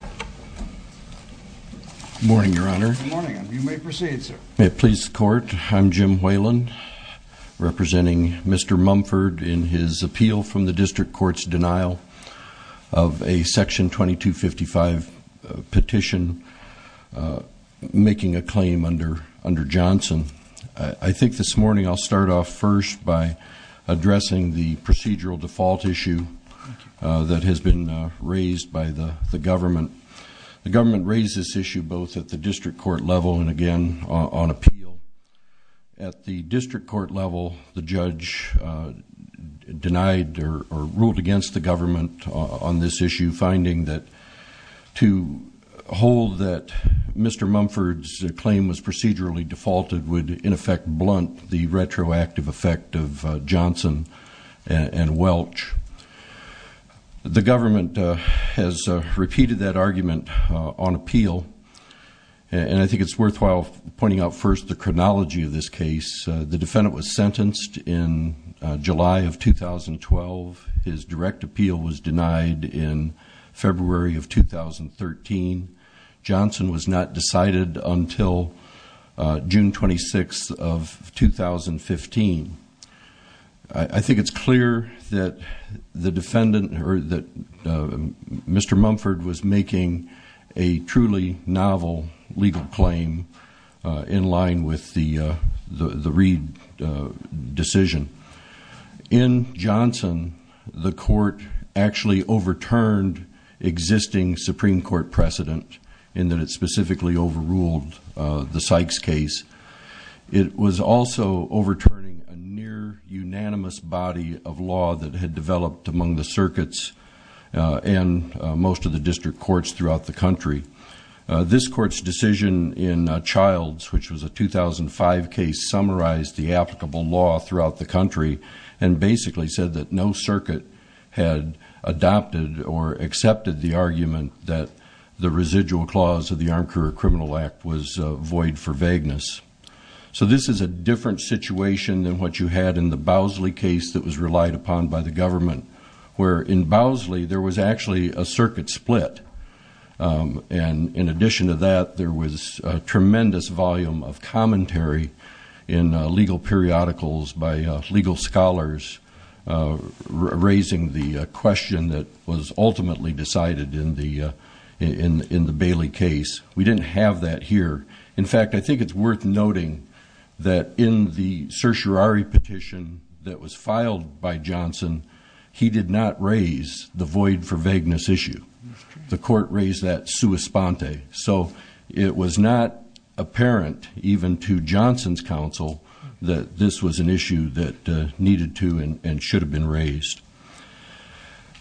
Good morning, Your Honor. Good morning. You may proceed, sir. May it please the Court, I'm Jim Whalen, representing Mr. Mumford in his appeal from the District Court's denial of a Section 2255 petition making a claim under Johnson. I think this morning I'll start off first by addressing the procedural default issue that has been raised by the government. The government raised this issue both at the District Court level and again on appeal. At the District Court level, the judge denied or ruled against the government on this issue, finding that to hold that Mr. Mumford's claim was procedurally defaulted would in effect blunt the retroactive effect of Johnson and Welch. The government has repeated that argument on appeal, and I think it's worthwhile pointing out first the chronology of this case. The defendant was sentenced in July of 2012. His direct appeal was denied in February of 2013. Johnson was not decided until June 26 of 2015. I think it's clear that Mr. Mumford was making a truly novel legal claim in line with the Reid decision. In Johnson, the Court actually overturned existing Supreme Court precedent in that it specifically overruled the Sykes case. It was also overturning a near-unanimous body of law that had developed among the circuits and most of the district courts throughout the country. This Court's decision in Childs, which was a 2005 case, summarized the applicable law throughout the country and basically said that no circuit had adopted or accepted the argument that the residual clause of the Armed Career Criminal Act was void for vagueness. So this is a different situation than what you had in the Bowsley case that was relied upon by the government, where in Bowsley there was actually a circuit split. And in addition to that, there was a tremendous volume of commentary in legal periodicals by legal scholars raising the question that was ultimately decided in the Bailey case. We didn't have that here. In fact, I think it's worth noting that in the certiorari petition that was filed by Johnson, he did not raise the void for vagueness issue. The Court raised that sua sponte. So it was not apparent, even to Johnson's counsel, that this was an issue that needed to and should have been raised.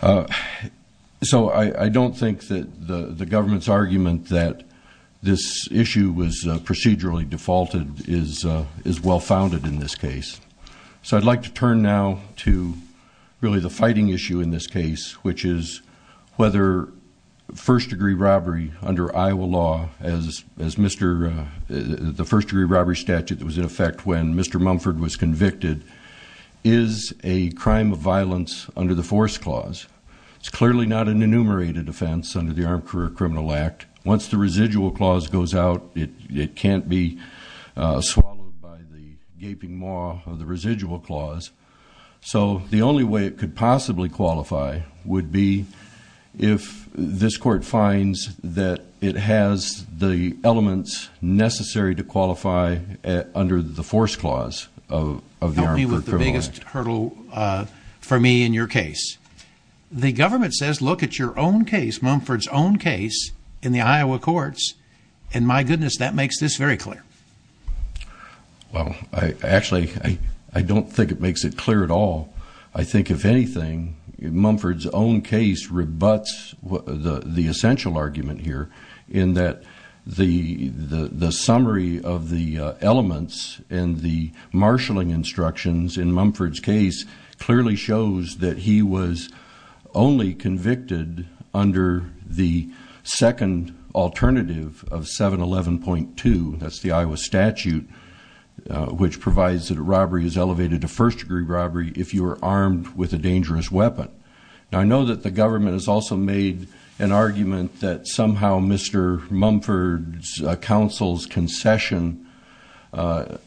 So I don't think that the government's argument that this issue was procedurally defaulted is well-founded in this case. So I'd like to turn now to really the fighting issue in this case, which is whether first-degree robbery under Iowa law, as the first-degree robbery statute that was in effect when Mr. Mumford was convicted, is a crime of violence under the force clause. It's clearly not an enumerated offense under the Armed Career Criminal Act. Once the residual clause goes out, it can't be swallowed by the gaping maw of the residual clause. So the only way it could possibly qualify would be if this court finds that it has the elements necessary to qualify under the force clause of the Armed Career Criminal Act. Help me with the biggest hurdle for me in your case. The government says look at your own case, Mumford's own case, in the Iowa courts, and my goodness, that makes this very clear. Well, actually, I don't think it makes it clear at all. I think, if anything, Mumford's own case rebuts the essential argument here in that the summary of the elements and the marshalling instructions in Mumford's case clearly shows that he was only convicted under the second alternative of 711.2, that's the Iowa statute, which provides that a robbery is elevated to first-degree robbery if you are armed with a dangerous weapon. Now, I know that the government has also made an argument that somehow Mr. Mumford's counsel's concession under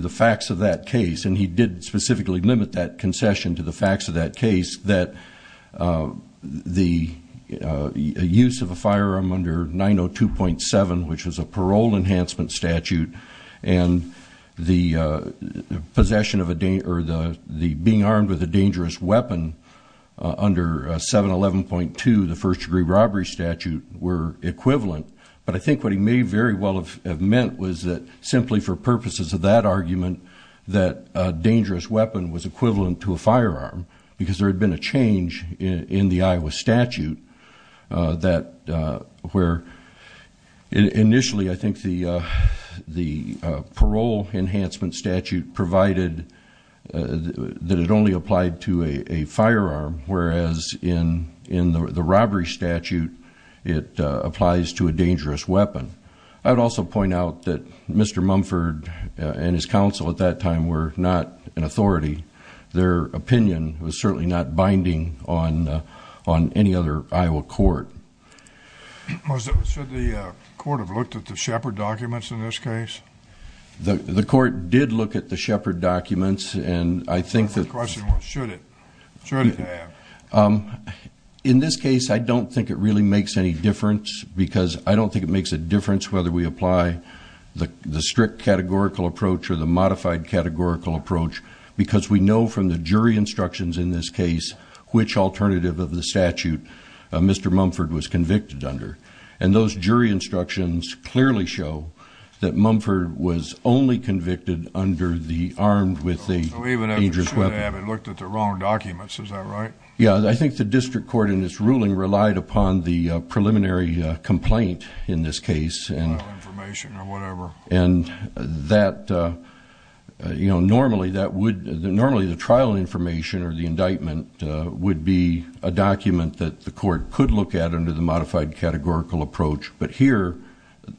the facts of that case, and he did specifically limit that concession to the facts of that case, that the use of a firearm under 902.7, which was a parole enhancement statute, and being armed with a dangerous weapon under 711.2, the first-degree robbery statute, were equivalent. But I think what he may very well have meant was that, simply for purposes of that argument, that a dangerous weapon was equivalent to a firearm because there had been a change in the Iowa statute where, initially, I think the parole enhancement statute provided that it only applied to a firearm, whereas in the robbery statute it applies to a dangerous weapon. I would also point out that Mr. Mumford and his counsel at that time were not an authority. Their opinion was certainly not binding on any other Iowa court. Should the court have looked at the Shepard documents in this case? The court did look at the Shepard documents, and I think that... The question was, should it? Should it have? In this case, I don't think it really makes any difference because I don't think it makes a difference whether we apply the strict categorical approach or the modified categorical approach because we know from the jury instructions in this case which alternative of the statute Mr. Mumford was convicted under. And those jury instructions clearly show that Mumford was only convicted under the armed with a dangerous weapon. It looked at the wrong documents. Is that right? Yeah, I think the district court in this ruling relied upon the preliminary complaint in this case. Trial information or whatever. And that, you know, normally that would... Normally the trial information or the indictment would be a document that the court could look at under the modified categorical approach. But here,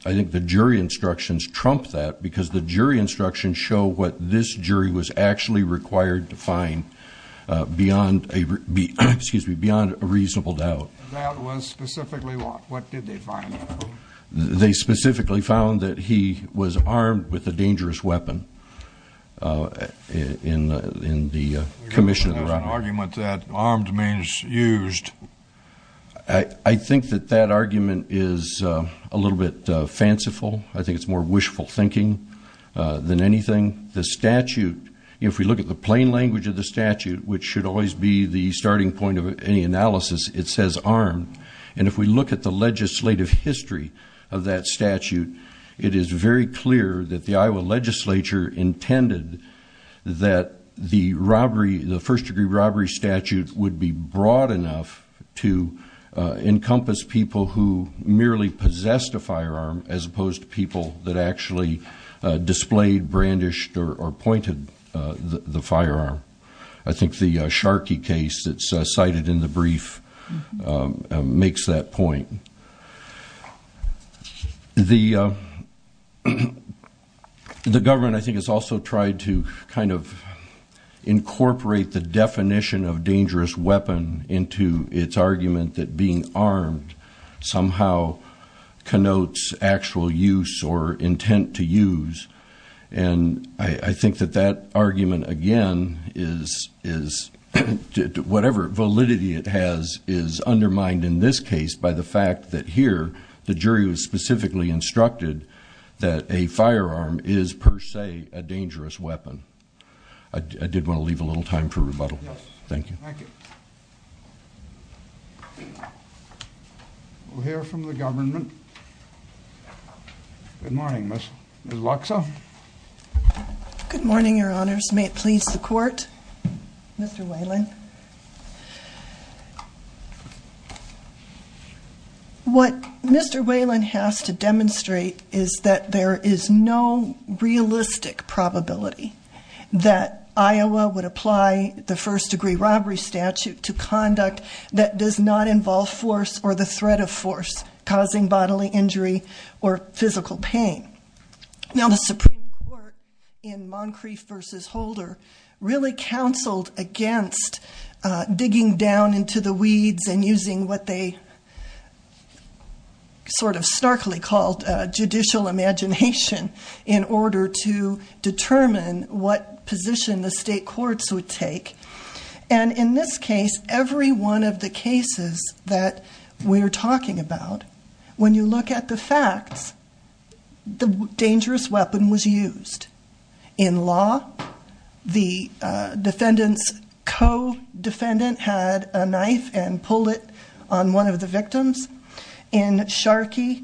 I think the jury instructions trump that because the jury instructions show what this jury was actually required to find beyond a reasonable doubt. The doubt was specifically what? What did they find? They specifically found that he was armed with a dangerous weapon in the commission of the robbery. There's an argument that armed means used. I think that that argument is a little bit fanciful. I think it's more wishful thinking than anything. The statute, if we look at the plain language of the statute, which should always be the starting point of any analysis, it says armed. And if we look at the legislative history of that statute, it is very clear that the Iowa legislature intended that the first degree robbery statute would be broad enough to encompass people who merely possessed a firearm as opposed to people that actually displayed, brandished, or pointed the firearm. I think the Sharkey case that's cited in the brief makes that point. The government, I think, has also tried to incorporate the definition of dangerous weapon into its argument that being armed somehow connotes actual use or intent to use. And I think that that argument, again, is whatever validity it has is undermined in this case by the fact that here the jury was specifically instructed that a firearm is per se a dangerous weapon. I did want to leave a little time for rebuttal. Thank you. Thank you. We'll hear from the government. Good morning, Ms. Loxa. Good morning, Your Honors. May it please the Court. Mr. Whalen. What Mr. Whalen has to demonstrate is that there is no realistic probability that Iowa would apply the first degree robbery statute to conduct that does not involve force or the threat of force causing bodily injury or physical pain. Now, the Supreme Court in Moncrief v. Holder really counseled against digging down into the weeds and using what they sort of starkly called judicial imagination in order to determine what position the state courts would take. And in this case, every one of the cases that we're talking about, when you look at the facts, the dangerous weapon was used. In law, the defendant's co-defendant had a knife and pulled it on one of the victims. In Sharkey,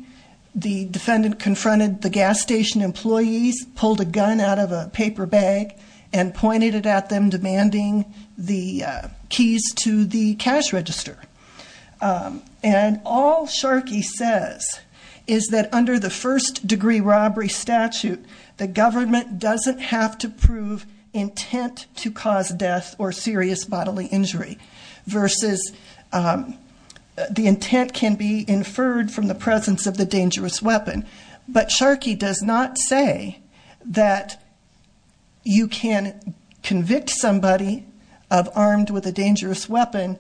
the defendant confronted the gas station employees, pulled a gun out of a paper bag, and pointed it at them, demanding the keys to the cash register. And all Sharkey says is that under the first degree robbery statute, the government doesn't have to prove intent to cause death or serious bodily injury versus the intent can be inferred from the presence of the dangerous weapon. But Sharkey does not say that you can convict somebody of armed with a dangerous weapon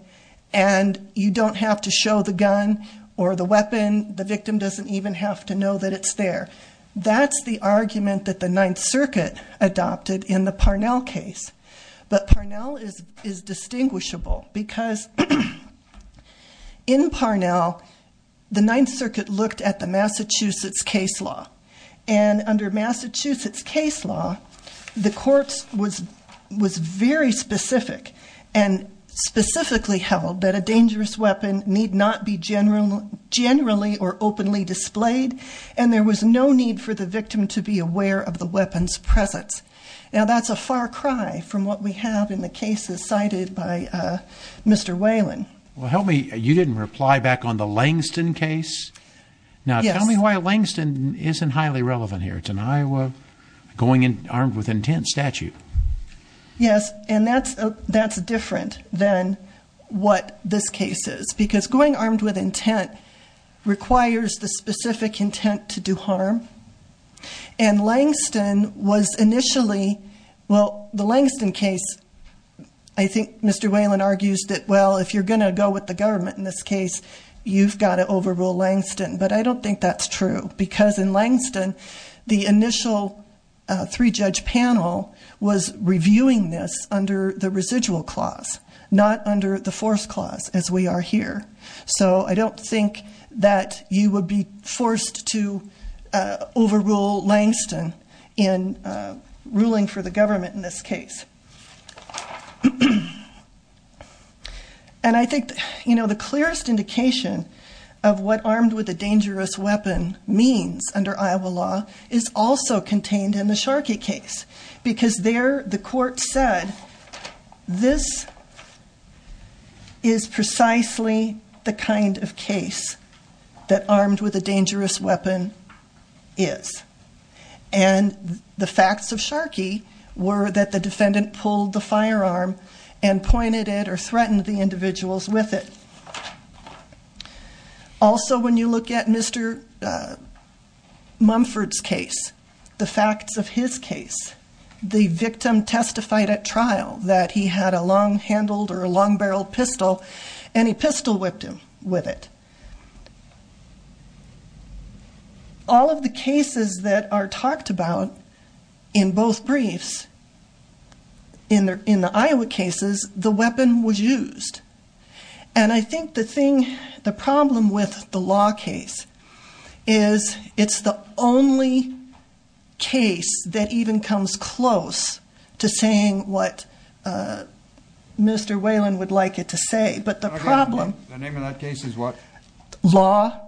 and you don't have to show the gun or the weapon. The victim doesn't even have to know that it's there. That's the argument that the Ninth Circuit adopted in the Parnell case. But Parnell is distinguishable because in Parnell, the Ninth Circuit looked at the Massachusetts case law. And under Massachusetts case law, the courts was very specific and specifically held that a dangerous weapon need not be generally or openly displayed. And there was no need for the victim to be aware of the weapon's presence. Now, that's a far cry from what we have in the cases cited by Mr. Whalen. Well, help me, you didn't reply back on the Langston case? Yes. Now, tell me why Langston isn't highly relevant here. It's an Iowa going armed with intent statute. Yes, and that's different than what this case is. Because going armed with intent requires the specific intent to do harm. And Langston was initially, well, the Langston case, I think Mr. Whalen argues that, well, if you're going to go with the government in this case, you've got to overrule Langston. But I don't think that's true, because in Langston, the initial three-judge panel was reviewing this under the residual clause, not under the force clause as we are here. So I don't think that you would be forced to overrule Langston in ruling for the government in this case. And I think, you know, the clearest indication of what armed with a dangerous weapon means under Iowa law is also contained in the Sharkey case. Because there, the court said, this is precisely the kind of case that armed with a dangerous weapon is. And the facts of Sharkey were that the defendant pulled the firearm and pointed it or threatened the individuals with it. Also, when you look at Mr. Mumford's case, the facts of his case, the victim testified at trial that he had a long-handled or a long-barreled pistol, and he pistol-whipped him with it. All of the cases that are talked about in both briefs, in the Iowa cases, the weapon was used. And I think the thing, the problem with the law case is it's the only case that even comes close to saying what Mr. Whalen would like it to say. But the problem- The name of that case is what? Law.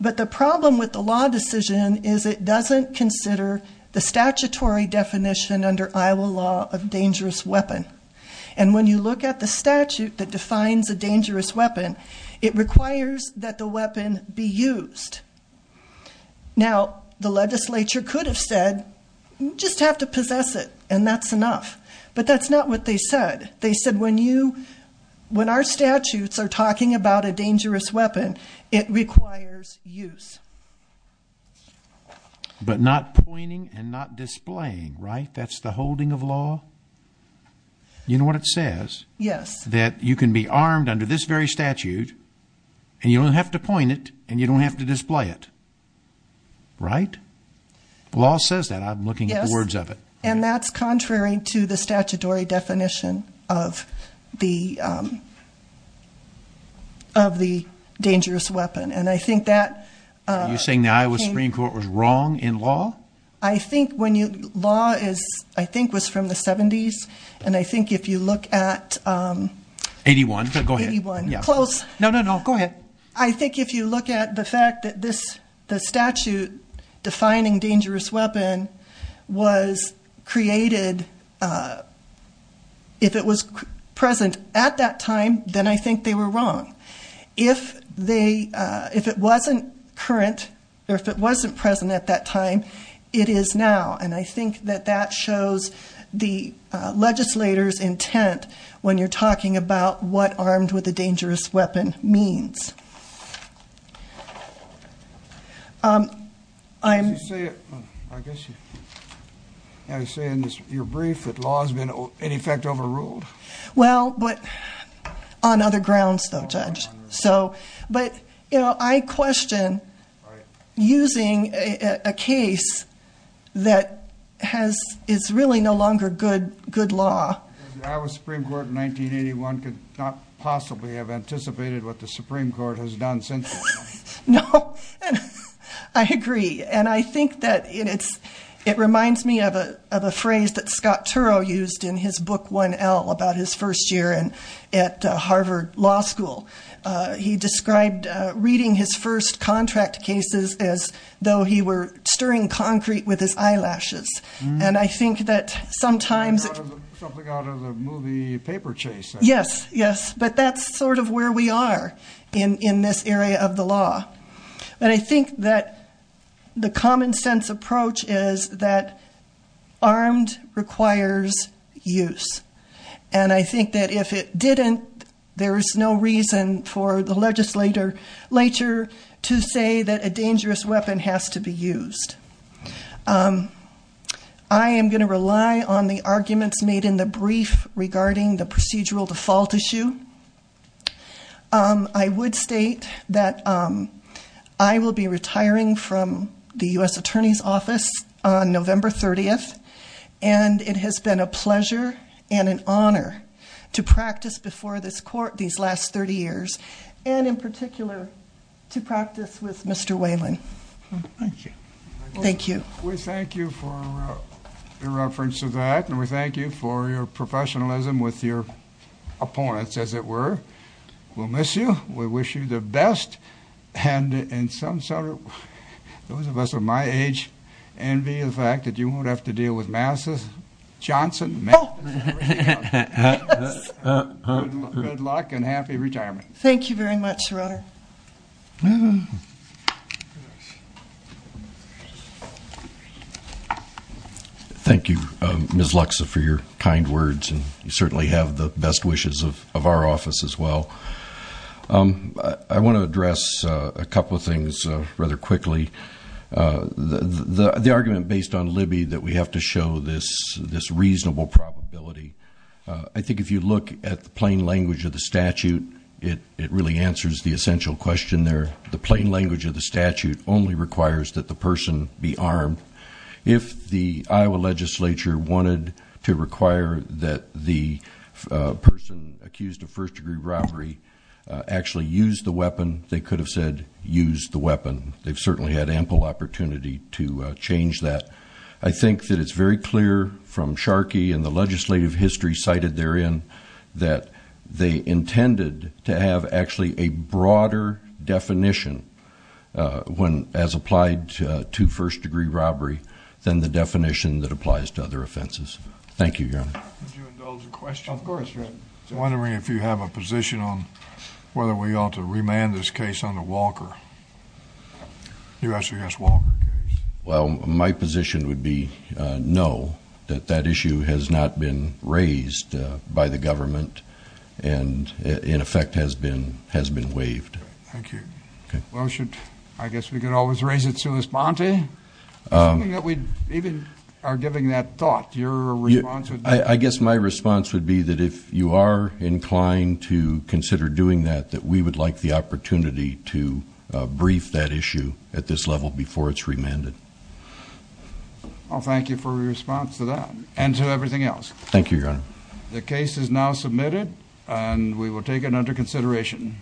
But the problem with the law decision is it doesn't consider the statutory definition under Iowa law of dangerous weapon. And when you look at the statute that defines a dangerous weapon, it requires that the weapon be used. Now, the legislature could have said, just have to possess it, and that's enough. But that's not what they said. They said when you, when our statutes are talking about a dangerous weapon, it requires use. But not pointing and not displaying, right? That's the holding of law? You know what it says? Yes. That you can be armed under this very statute, and you don't have to point it, and you don't have to display it. Right? The law says that. I'm looking at the words of it. Yes. And that's contrary to the statutory definition of the dangerous weapon. And I think that- Are you saying the Iowa Supreme Court was wrong in law? I think when you, law is, I think was from the 70s. And I think if you look at- 81. 81. Close. No, no, no. Go ahead. I think if you look at the fact that this, the statute defining dangerous weapon was created, if it was present at that time, then I think they were wrong. If they, if it wasn't current, or if it wasn't present at that time, it is now. And I think that that shows the legislator's intent when you're talking about what armed with a dangerous weapon means. I'm- I guess you're saying in your brief that law has been, in effect, overruled? Well, but on other grounds, though, Judge. So, but, you know, I question using a case that has, is really no longer good, good law. The Iowa Supreme Court in 1981 could not possibly have anticipated what the Supreme Court has done since then. No, I agree. And I think that it's, it reminds me of a phrase that Scott Turow used in his book 1L about his first year at Harvard Law School. He described reading his first contract cases as though he were stirring concrete with his eyelashes. And I think that sometimes- Something out of the movie Paper Chase. Yes, yes. But that's sort of where we are in this area of the law. But I think that the common sense approach is that armed requires use. And I think that if it didn't, there is no reason for the legislator later to say that a dangerous weapon has to be used. I am going to rely on the arguments made in the brief regarding the procedural default issue. I would state that I will be retiring from the U.S. Attorney's Office on November 30th. And it has been a pleasure and an honor to practice before this court these last 30 years. And in particular, to practice with Mr. Wayland. Thank you. Thank you. We thank you for your reference to that. And we thank you for your professionalism with your opponents, as it were. We'll miss you. We wish you the best. And in some sort of, those of us of my age envy the fact that you won't have to deal with Massa Johnson. Good luck and happy retirement. Thank you very much, Your Honor. Thank you, Ms. Luxa, for your kind words. And you certainly have the best wishes of our office as well. I want to address a couple of things rather quickly. The argument based on Libby that we have to show this reasonable probability. I think if you look at the plain language of the statute, it really answers the essential question there. The plain language of the statute only requires that the person be armed. If the Iowa legislature wanted to require that the person accused of first-degree robbery actually use the weapon, they could have said, use the weapon. They've certainly had ample opportunity to change that. I think that it's very clear from Sharkey and the legislative history cited therein that they intended to have actually a broader definition as applied to first-degree robbery than the definition that applies to other offenses. Thank you, Your Honor. Would you indulge in questions? Of course, Your Honor. I'm wondering if you have a position on whether we ought to remand this case under Walker, U.S. v. S. Walker case. Well, my position would be no, that that issue has not been raised by the government and, in effect, has been waived. Thank you. Well, I guess we could always raise it to Ms. Bonte. Something that we even are giving that thought, your response would be? I guess my response would be that if you are inclined to consider doing that, that we would like the opportunity to brief that issue at this level before it's remanded. Well, thank you for your response to that and to everything else. Thank you, Your Honor. The case is now submitted and we will take it under consideration.